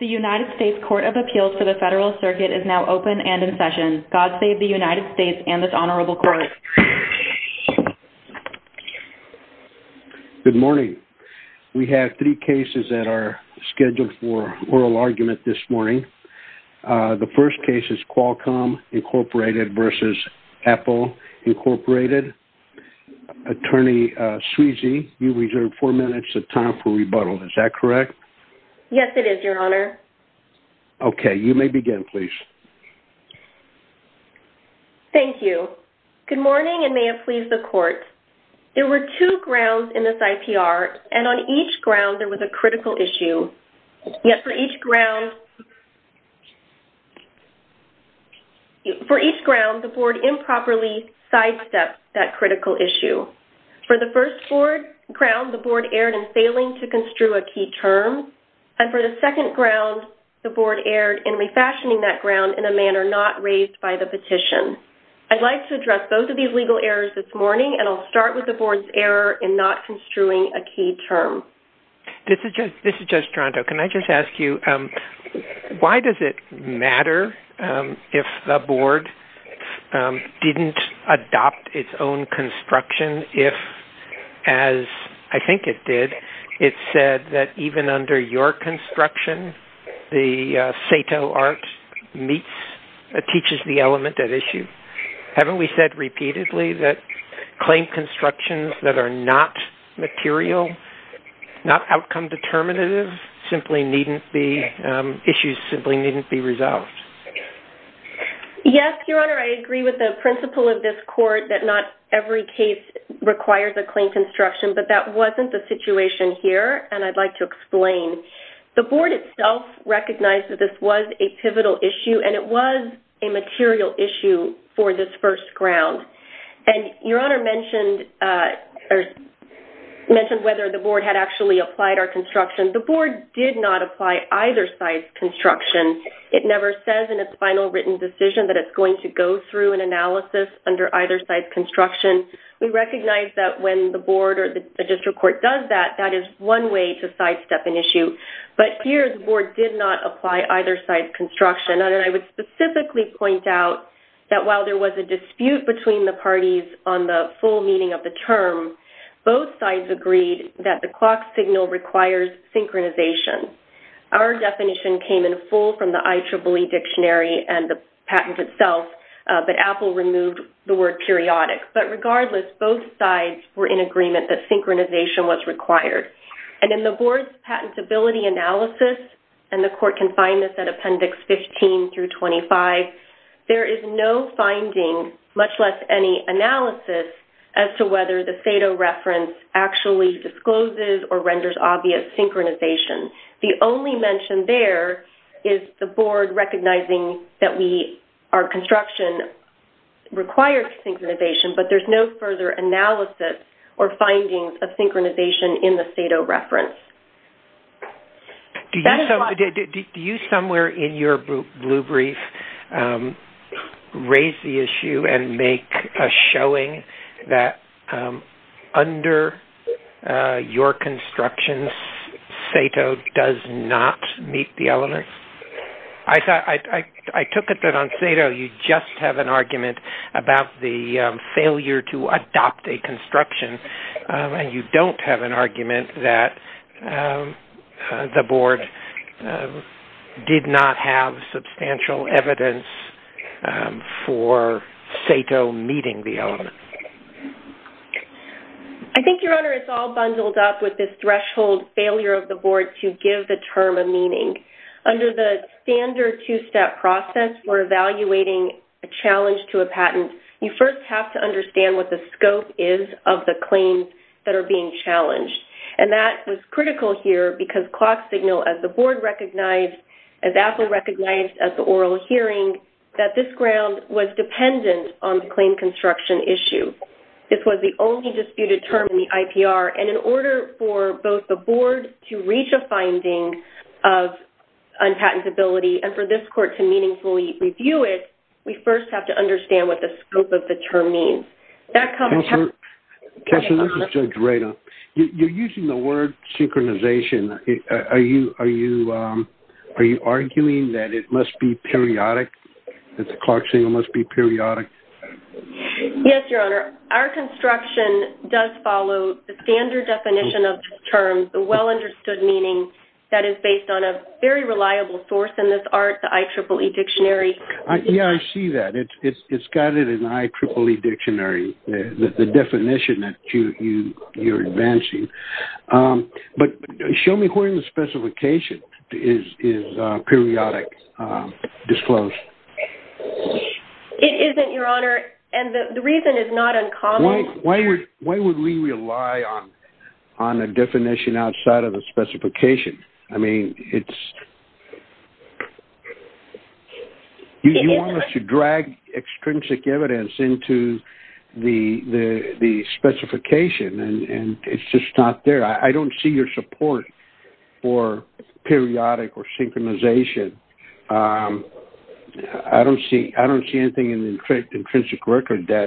The United States Court of Appeals for the Federal Circuit is now open and in session. God save the United States and this honorable court. Good morning. We have three cases that are scheduled for oral argument this morning. The first case is Qualcomm Incorporated v. Apple Incorporated. Attorney Sweezy, you reserve four minutes of time for rebuttal. Is that correct? Yes, it is, your honor. Okay. You may begin, please. Thank you. Good morning and may it please the court. There were two grounds in this IPR and on each ground there was a critical issue, yet for each ground the board improperly sidestepped that critical issue. For the first ground the board erred in construing a key term and for the second ground the board erred in refashioning that ground in a manner not raised by the petition. I'd like to address both of these legal errors this morning and I'll start with the board's error in not construing a key term. This is Judge Toronto. Can I just ask you, why does it matter if the board didn't adopt its own construction if, as I think it did, it said that even under your construction the SATO art teaches the element at issue? Haven't we said repeatedly that claim constructions that are not material, not outcome determinative, issues simply needn't be resolved? Yes, Your Honor. I agree with the principle of this court that not every case requires a claim construction, but that wasn't the situation here and I'd like to explain. The board itself recognized that this was a pivotal issue and it was a material issue for this first ground. And Your Honor mentioned whether the board had actually applied our construction. The board did not apply either side's construction. It never says in its final written decision that it's going to go through an analysis under either side's construction. We recognize that when the board or the district court does that, that is one way to sidestep an issue, but here the board did not apply either side's construction. And I would specifically point out that while there was a dispute between the parties on the full meaning of the term, both sides agreed that the clock signal requires synchronization. Our definition came in full from the IEEE dictionary and the patent itself, but Apple removed the word periodic. But regardless, both sides were in agreement that synchronization was required. And in the board's patentability analysis, and the court can find this at Appendix 15 through 25, there is no finding, much less any analysis, as to whether the FATO reference actually discloses or renders obvious synchronization. The only mention there is the board recognizing that our construction requires synchronization, but there's no further analysis or findings of synchronization in the and make a showing that under your construction, FATO does not meet the elements. I took it that on FATO, you just have an argument about the failure to adopt a construction, and you don't have an argument that the board did not have substantial evidence for FATO meeting the elements. I think, Your Honor, it's all bundled up with this threshold failure of the board to give the term a meaning. Under the standard two-step process for evaluating a challenge to a patent, you first have to understand what the scope is of the claims that are being challenged. And that was critical here because clock signal, as the board recognized, as AAPL recognized at the oral hearing, that this ground was dependent on the claim construction issue. This was the only disputed term in the IPR. And in order for both the board to reach a finding of unpatentability and for this court to meaningfully review it, we first have to understand what the scope of the term means. That comes... Counselor, this is Judge Rado. You're using the synchronization. Are you arguing that it must be periodic, that the clock signal must be periodic? Yes, Your Honor. Our construction does follow the standard definition of terms, the well-understood meaning, that is based on a very reliable source in this art, the IEEE Dictionary. Yeah, I see that. It's got it in the IEEE Dictionary, the definition that you're advancing. But show me where in the specification is periodic, disclosed. It isn't, Your Honor. And the reason is not uncommon. Why would we rely on a definition outside of the specification? I mean, it's... You want us to drag extrinsic evidence into the specification, and it's just not there. I don't see your support for periodic or synchronization. I don't see anything in the intrinsic record that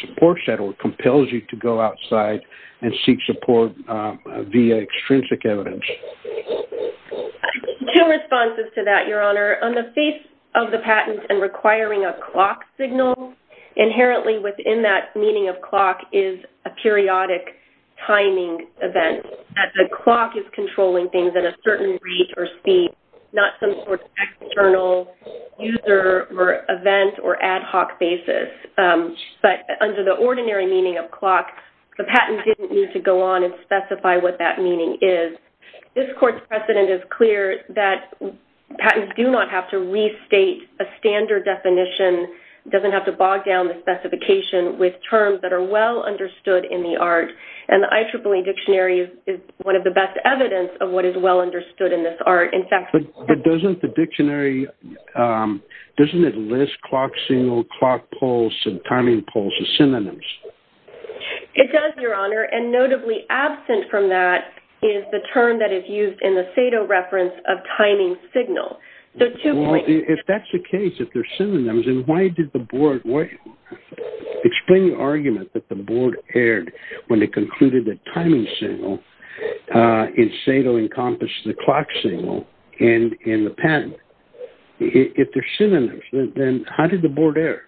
supports that or compels you to go outside and seek support via extrinsic evidence. I have two responses to that, Your Honor. On the face of the patent and requiring a clock signal, inherently within that meaning of clock is a periodic timing event, that the clock is controlling things at a certain rate or speed, not some sort of external user or event or ad hoc basis. But under the ordinary meaning of clock, the patent didn't need to go on and specify what that meaning is. This court's precedent is clear that patents do not have to restate a standard definition, doesn't have to bog down the specification with terms that are well understood in the art. And the IEEE Dictionary is one of the best evidence of what is well understood in this art. In fact... But doesn't the dictionary, doesn't it list clock signal, clock pulse, and timing pulse as synonyms? It does, Your Honor. And notably absent from that is the term that is used in the SATO reference of timing signal. So two points... Well, if that's the case, if they're synonyms, then why did the board... Explain the argument that the board erred when it concluded that timing signal in SATO encompassed the clock signal in the patent. If they're synonyms, then how did the board err?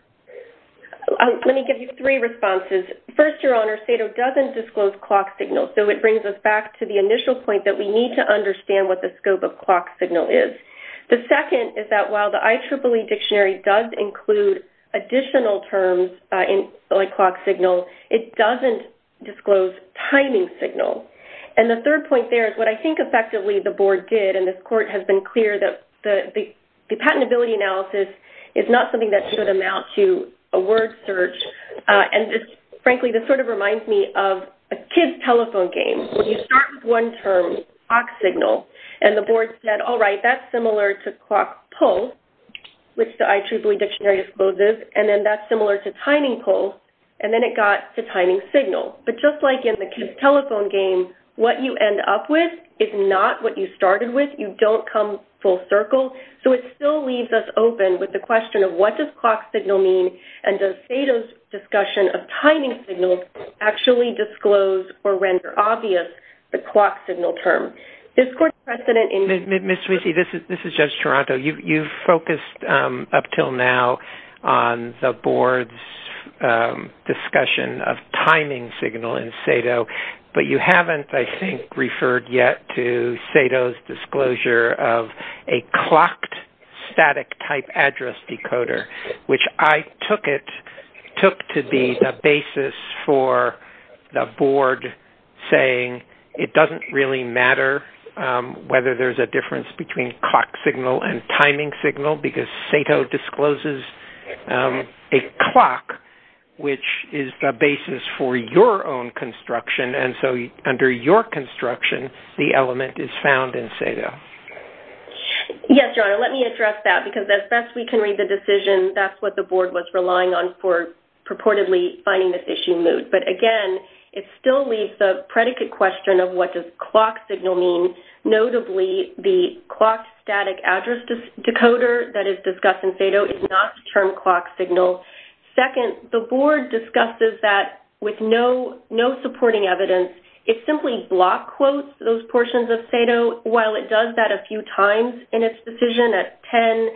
Let me give you three responses. First, Your Honor, SATO doesn't disclose clock signal. So it brings us back to the initial point that we need to understand what the scope of clock signal is. The second is that while the IEEE Dictionary does include additional terms in clock signal, it doesn't disclose timing signal. And the third point there is what I think effectively the board did, and this court has been clear that the patentability analysis is not something that should amount to a word search. And frankly, this sort of reminds me of a kid's telephone game. When you start with one term, clock signal, and the board said, all right, that's similar to clock pulse, which the IEEE Dictionary exposes, and then that's similar to timing pulse, and then it got to timing signal. But just like in the kid's telephone game, what you end up with is not what you started with. You don't come full circle. So it still leaves us open with the question of what does clock signal mean, and does SATO's discussion of timing signal actually disclose or render obvious the clock signal term? This court precedent in- Ms. Swissy, this is Judge Toronto. You've focused up until now on the board's discussion of timing signal in SATO, but you haven't, I think, referred yet to SATO's disclosure of a clocked static type address decoder, which I took to be the basis for the board saying it doesn't really matter whether there's a difference between clock signal and timing signal because SATO discloses a clock, which is the basis for your own construction. And so under your construction, the element is found in SATO. Yes, Your Honor. Let me address that because as best we can read the decision, that's what the board was relying on for purportedly finding this issue moot. But again, it still leaves the predicate question of what does clock signal mean. Notably, the clock static address decoder that is discussed in SATO is not the term clock signal. Second, the board discusses that with no supporting evidence. It simply block quotes those portions of SATO while it does that a few times in its decision at 10,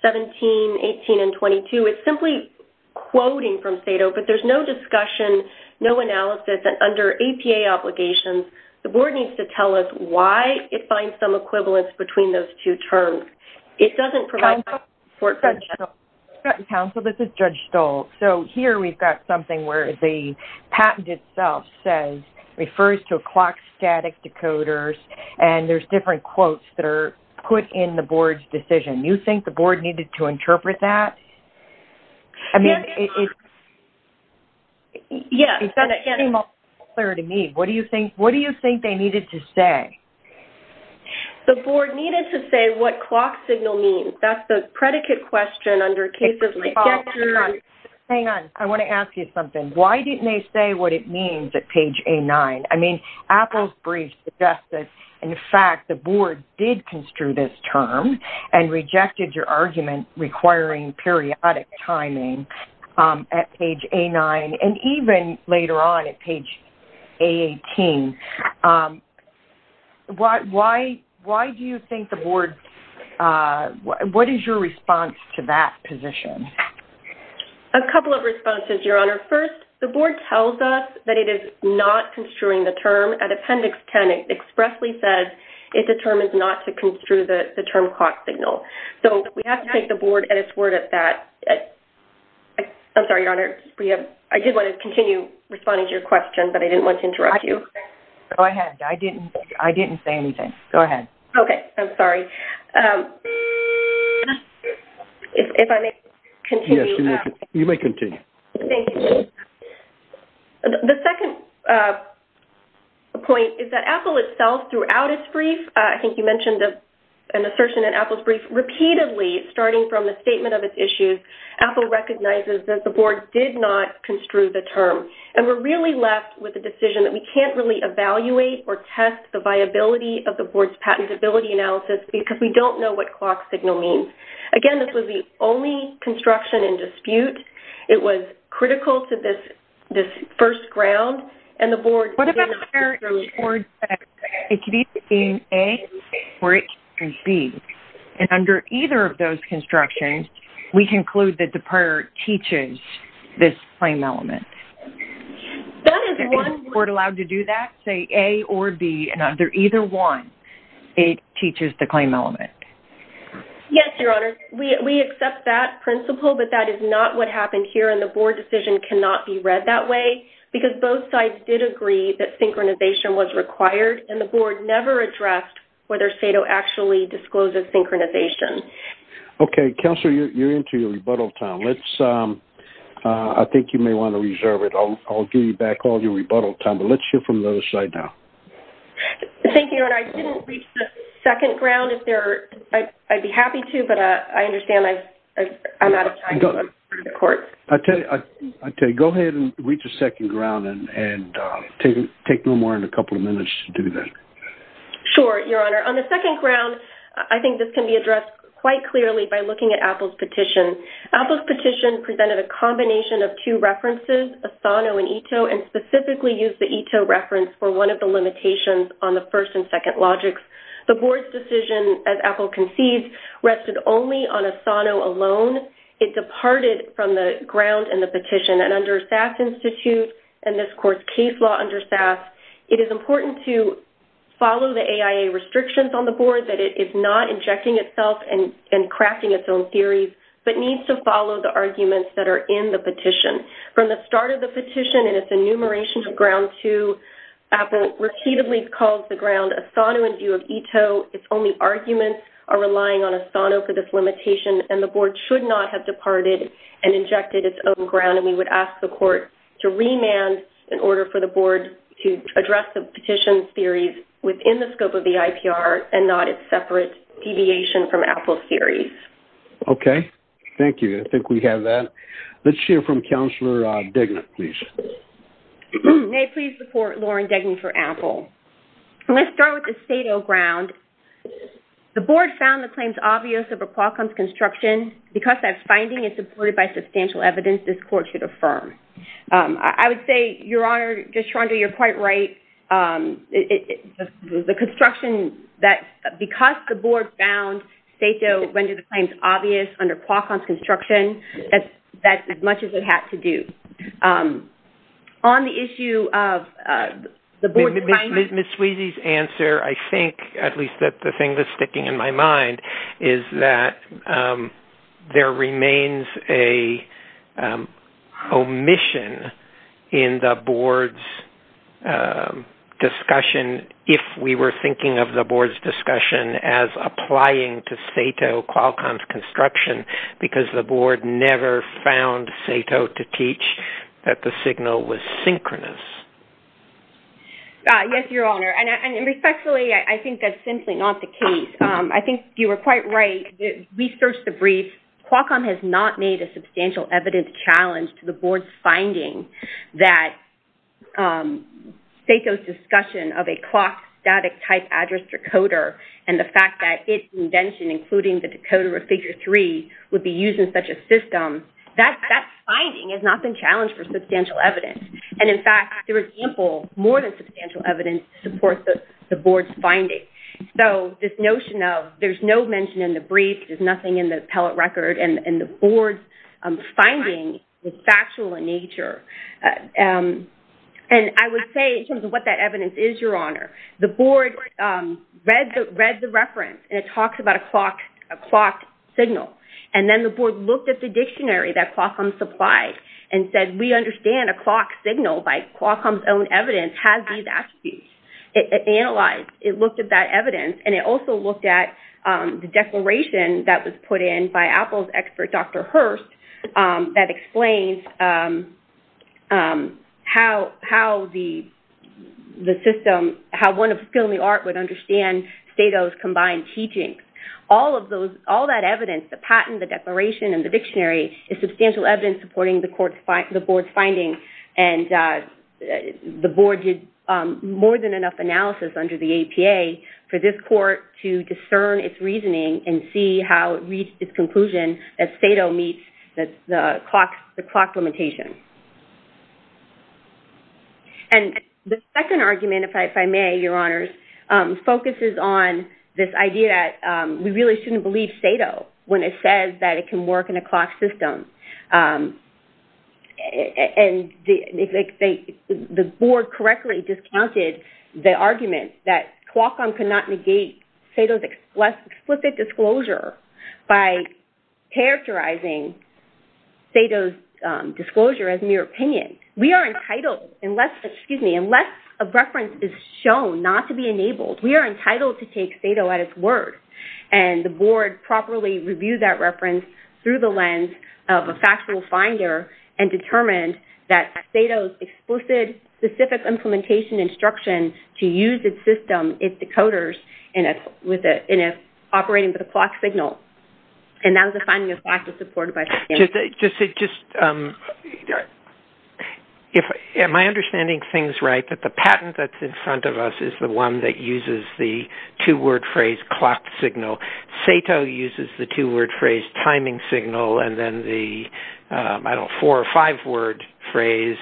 17, 18, and 22. It's simply quoting from SATO, but there's no discussion, no analysis, and under APA obligations, the board needs to tell us why it finds some equivalence between those two terms. It doesn't provide support for that. Counsel, this is Judge Stoltz. So here we've got something where the patent itself says, refers to a clock static decoders, and there's different quotes that are put in the board's decision. You think the board needed to interpret that? I mean, it's... Yes. It doesn't seem all that clear to me. What do you think they needed to say? The board needed to say what clock signal means. That's the predicate question under cases... Hang on. Hang on. I want to ask you something. Why didn't they say what it means at page A9? I mean, Apple's brief suggests that, in fact, the board did construe this term and rejected your argument requiring periodic timing at page A9 and even later on at page A18. Why do you think the board... What is your response to that position? A couple of responses, Your Honor. First, the board tells us that it is not construing the term. At appendix 10, it expressly says it determines not to construe the term clock signal. So we have to take the board at its word at that. I'm sorry, Your Honor. I did want to continue responding to your question, but I didn't want to interrupt you. Go ahead. I didn't say anything. Go ahead. Okay. I'm sorry. If I may continue... Yes. You may continue. Thank you. The second point is that Apple itself, throughout its brief... I think you mentioned an assertion in Apple's brief. Repeatedly, starting from the statement of its issues, Apple recognizes that the board did not construe the term. And we're really left with a decision that we can't really evaluate or test the viability of the board's patentability analysis because we don't know what clock signal means. Again, this was the only construction in dispute. It was critical to this first ground. And the board... What about the prior report that it could either be in A or it could be in B? And under either of those constructions, we conclude that the prior teaches this claim element. That is one... Is the board allowed to do that? Say A or B. And under either one, it teaches the claim element. Yes, Your Honor. We accept that principle, but that is not what happened here. And the board decision cannot be read that way because both sides did agree that synchronization was required. And the board never addressed whether SATO actually discloses synchronization. Okay. Counselor, you're into your rebuttal time. I think you may want to reserve it. I'll give you back all your rebuttal time, but let's hear from the other side now. Thank you, Your Honor. I didn't reach the second ground. I'd be happy to, but I understand I'm out of time for the court. I tell you, go ahead and reach the second ground and take no more than a couple of minutes to do that. Sure, Your Honor. On the second ground, I think this can be addressed quite clearly by looking at Apple's petition. Apple's petition presented a combination of two references, ASANO and ETO, and specifically used the ETO reference for one of the limitations on the first and second logics. The board's decision, as Apple conceived, rested only on ASANO alone. It departed from the ground in the petition. And under SAS Institute and this court's case law under SAS, it is important to follow the AIA restrictions on the board that it is not injecting itself and crafting its own theories, but needs to follow the arguments that are in the petition. From the start of the petition and its enumeration of ground two, Apple repeatedly calls the ground ASANO in view of ETO. Its only arguments are relying on ASANO for this limitation, and the board should not have departed and injected its own ground. And we would ask the court to remand in order for the board to the IPR and not its separate deviation from Apple's theories. Okay. Thank you. I think we have that. Let's hear from Counselor Degna, please. May I please report, Lauren Degna for Apple. Let's start with the state of ground. The board found the claims obvious over Qualcomm's construction. Because that finding is supported by substantial evidence, this court should affirm. I would say, Your Honor, just trying to, you're quite right, it, the construction that, because the board found STATO rendered the claims obvious under Qualcomm's construction, that's as much as it had to do. On the issue of the board's- Ms. Sweezy's answer, I think, at least the thing that's sticking in my mind, is that there remains an omission in the board's discussion, if we were thinking of the board's discussion as applying to STATO Qualcomm's construction, because the board never found STATO to teach that the signal was synchronous. Yes, Your Honor. And respectfully, I think that's simply not the case. I think you were quite right. We searched the briefs. Qualcomm has not made a substantial evidence challenge to the board's finding that STATO's discussion of a clock static type address decoder, and the fact that its invention, including the decoder of figure three, would be used in such a system, that finding has not been challenged for substantial evidence. And in fact, there is ample, more than substantial evidence to support the board's finding. So this notion of there's no mention in the brief, there's nothing in the appellate record, and the board's finding is factual in nature. And I would say, in terms of what that evidence is, Your Honor, the board read the reference, and it talks about a clock signal. And then the board looked at the dictionary that Qualcomm analyzed. It looked at that evidence, and it also looked at the declaration that was put in by Apple's expert, Dr. Hurst, that explains how the system, how one of skill and the art would understand STATO's combined teachings. All of those, all that evidence, the patent, the declaration, and the dictionary, is substantial evidence supporting the board's finding. And the board did more than enough analysis under the APA for this court to discern its reasoning and see how it reached its conclusion that STATO meets the clock limitation. And the second argument, if I may, Your Honors, focuses on this idea that we really shouldn't believe STATO when it says that it can work in a clock system. And the board correctly discounted the argument that Qualcomm cannot negate STATO's explicit disclosure by characterizing STATO's disclosure as mere opinion. We are entitled, unless, excuse me, unless a reference is shown not to be enabled. We are entitled to take STATO at its word. And the board properly reviewed that reference through the lens of a factual finder and determined that STATO's explicit, specific implementation instruction to use its system, its decoders, in operating with a clock signal. And that was a finding of fact that was supported by… Just, am I understanding things right that the patent that's in front of us is the one that uses the two-word phrase clock signal. STATO uses the two-word phrase timing signal and then the, I don't know, four or five-word phrase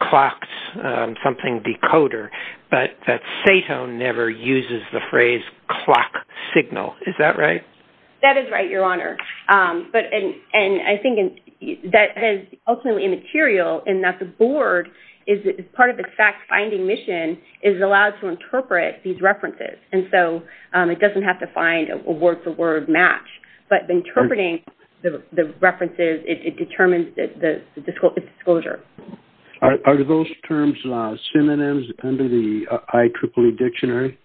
clocks something decoder. But that STATO never uses the phrase clock signal. Is that right? That is right, Your Honor. And I think that is ultimately immaterial in that the board, as part of its fact-finding mission, is allowed to interpret these references. And so it doesn't have to find a word-for-word match. But interpreting the references, it determines the disclosure. Are those terms synonyms under the IEEE dictionary?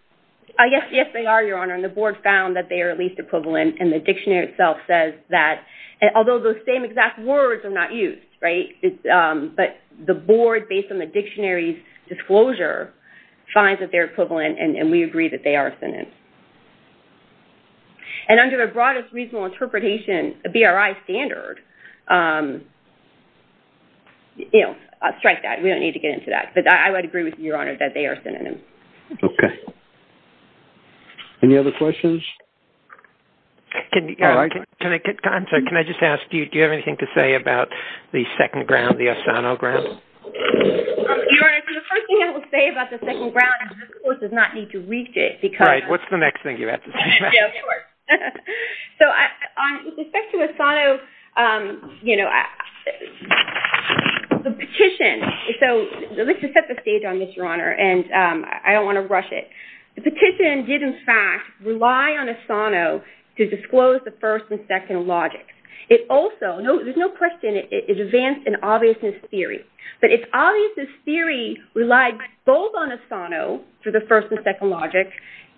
Yes, yes, they are, Your Honor. And the board found that they are at least equivalent. And the dictionary itself says that, although those same exact words are not used, right? But the board, based on the dictionary's disclosure, finds that they're equivalent and we agree that they are synonyms. And under the broadest reasonable interpretation, a BRI standard, you know, strike that. We don't need to get into that. But I would agree with you, Your Honor, that they are synonyms. Okay. Any other questions? Can I just ask, do you have anything to say about the second ground, the Asano ground? Your Honor, so the first thing I will say about the second ground is this Court does not need to reach it because... Right. What's the next thing you have to say? Yeah, of course. So with respect to Asano, you know, the petition, so let's just set the stage on this, Your Honor, and I don't want to rush it. The petition did, in fact, rely on Asano to disclose the first and second logic. It also, there's no question, it is advanced in obviousness theory. But its obviousness theory relied both on Asano for the first and second logic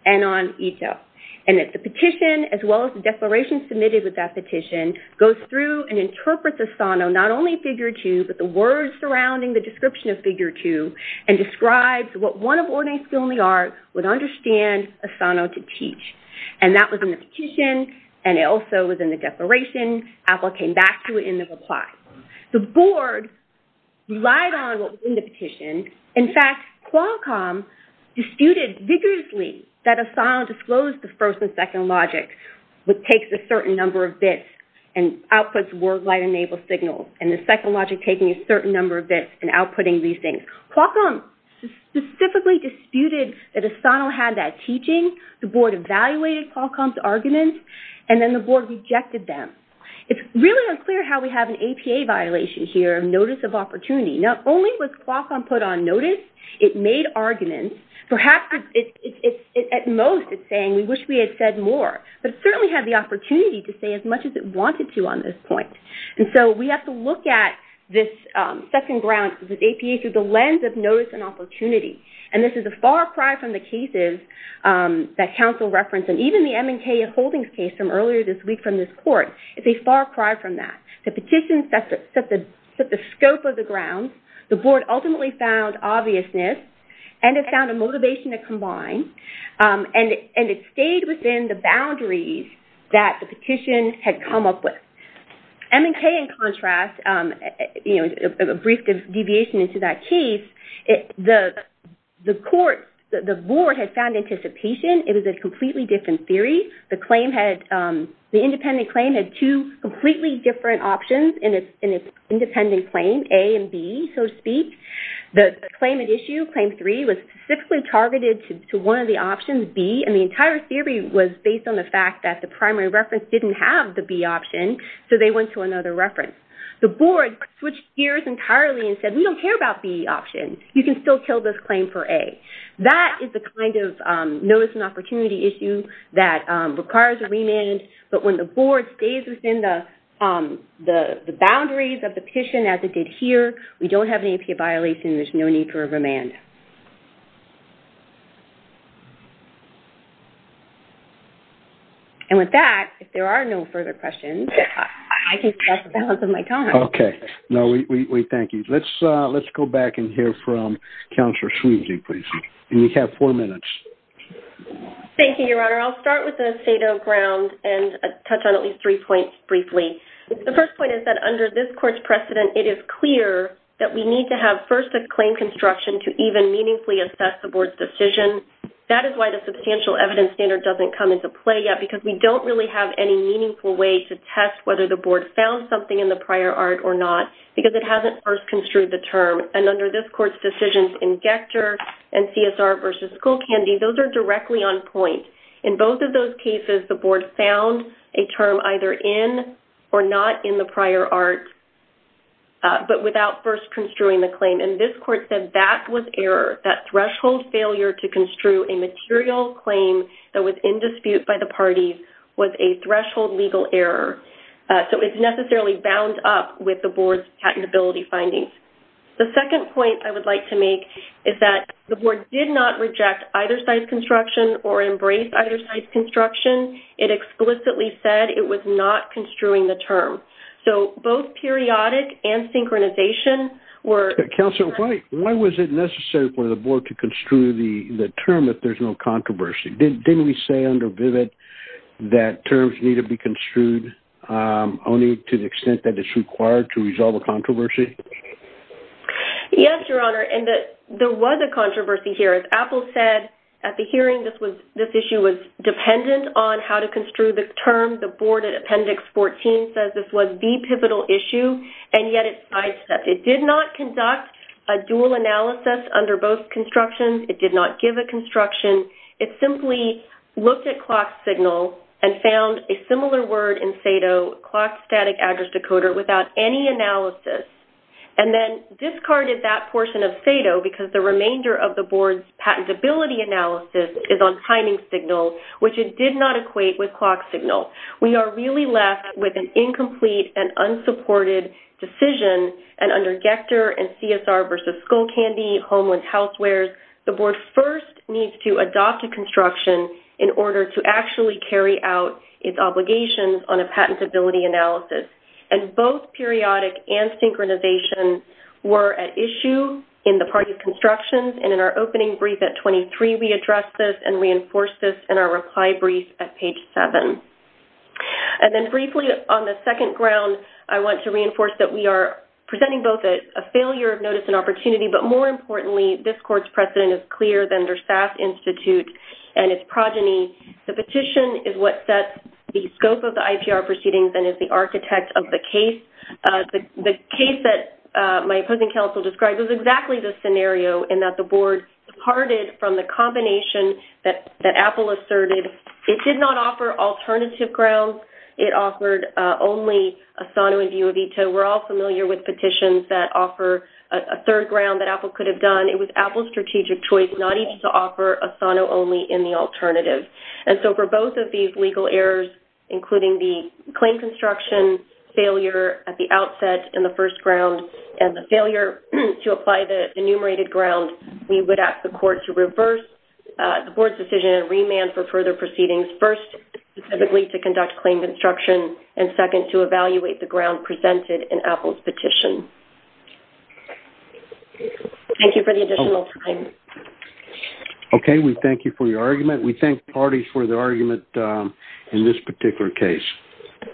and on Ito. And the petition, as well as the declaration submitted with that petition, goes through and interprets Asano, not only figure two, but the words surrounding the description of figure two, and describes what one of ordinary skill in the art would understand Asano to teach. And that was in the petition, and it also was in the declaration. Apple came back to it in the reply. The board relied on what was in the petition. In fact, Qualcomm disputed vigorously that Asano disclosed the first and second logic, which takes a certain number of bits and outputs wordlight-enabled signals, and the second logic taking a certain number of bits and outputting these things. Qualcomm specifically disputed that Asano had that teaching. The board evaluated Qualcomm's arguments, and then the board rejected them. It's really unclear how we have an APA violation here, notice of opportunity. Not only was Qualcomm put on notice, it made arguments. Perhaps at most it's saying, we wish we had said more. But it certainly had the opportunity to say as much as it wanted to on this point. And so we have to look at this second ground, this APA through the lens of notice and opportunity. And this is a far cry from the cases that counsel referenced, and even the M&K Holdings case from earlier this week from this court. It's a far cry from that. The petition set the scope of the grounds. The board ultimately found obviousness, and it found a motivation to come up with. M&K, in contrast, a brief deviation into that case, the board had found anticipation. It was a completely different theory. The independent claim had two completely different options in its independent claim, A and B, so to speak. The claim at issue, Claim 3, was specifically targeted to one of the options, B, and the entire theory was based on the fact that the primary reference didn't have the B option, so they went to another reference. The board switched gears entirely and said, we don't care about the B option. You can still kill this claim for A. That is the kind of notice and opportunity issue that requires a remand, but when the board stays within the boundaries of the petition as it did here, we don't have an APA violation. There's no need for a remand. And with that, if there are no further questions, I can stop the balance of my time. Okay. No, we thank you. Let's go back and hear from Counselor Sweeney, please. You have four minutes. Thank you, Your Honor. I'll start with the state of the ground and touch on at least three points briefly. The first point is that under this court's precedent, it is clear that we need to have first a claim construction to even meaningfully assess the board's decision. That is why the substantial evidence standard doesn't come into play yet, because we don't really have any meaningful way to test whether the board found something in the prior art or not, because it hasn't first construed the term. And under this court's decisions in Gector and CSR v. Skolkandy, those are directly on point. In both of those cases, the board found a term either in or not in the prior art, but without first construing the claim. And this court said that was error, that threshold failure to construe a material claim that was in dispute by the parties was a threshold legal error. So it's necessarily bound up with the board's patentability findings. The second point I would like to make is that the board did not reject either side's construction or embrace either side's construction. It explicitly said it was not construing the term. So both periodic and synchronization were... Counselor, why was it necessary for the board to construe the term if there's no controversy? Didn't we say under Vivid that terms need to be construed only to the extent that it's required to resolve a controversy? Yes, Your Honor, and there was a controversy here. As Apple said at the hearing, this issue was the pivotal issue, and yet it's sidestepped. It did not conduct a dual analysis under both constructions. It did not give a construction. It simply looked at clock signal and found a similar word in SADO, Clock Static Address Decoder, without any analysis, and then discarded that portion of SADO because the remainder of the board's patentability analysis is on timing signal, which it did not equate with clock signal. We are really left with an incomplete and unsupported decision, and under Gector and CSR versus Skullcandy, Homeless Housewares, the board first needs to adopt a construction in order to actually carry out its obligations on a patentability analysis, and both periodic and synchronization were at issue in the party reply brief at page 7. And then briefly on the second ground, I want to reinforce that we are presenting both a failure of notice and opportunity, but more importantly, this court's precedent is clearer than their SAS Institute and its progeny. The petition is what sets the scope of the IPR proceedings and is the architect of the case. The case that my opposing counsel described was exactly the scenario in that the board departed from the combination that Apple asserted. It did not offer alternative grounds. It offered only a SANO and DUA veto. We're all familiar with petitions that offer a third ground that Apple could have done. It was Apple's strategic choice not even to offer a SANO only in the alternative. And so for both of these legal errors, including the claim construction failure at the outset in the first ground, and the failure to apply the enumerated ground, we would ask the court to reverse the board's decision and remand for further proceedings. First, specifically to conduct claim construction, and second, to evaluate the ground presented in Apple's petition. Thank you for the additional time. Okay, we thank you for your argument. We thank parties for the argument in this particular case.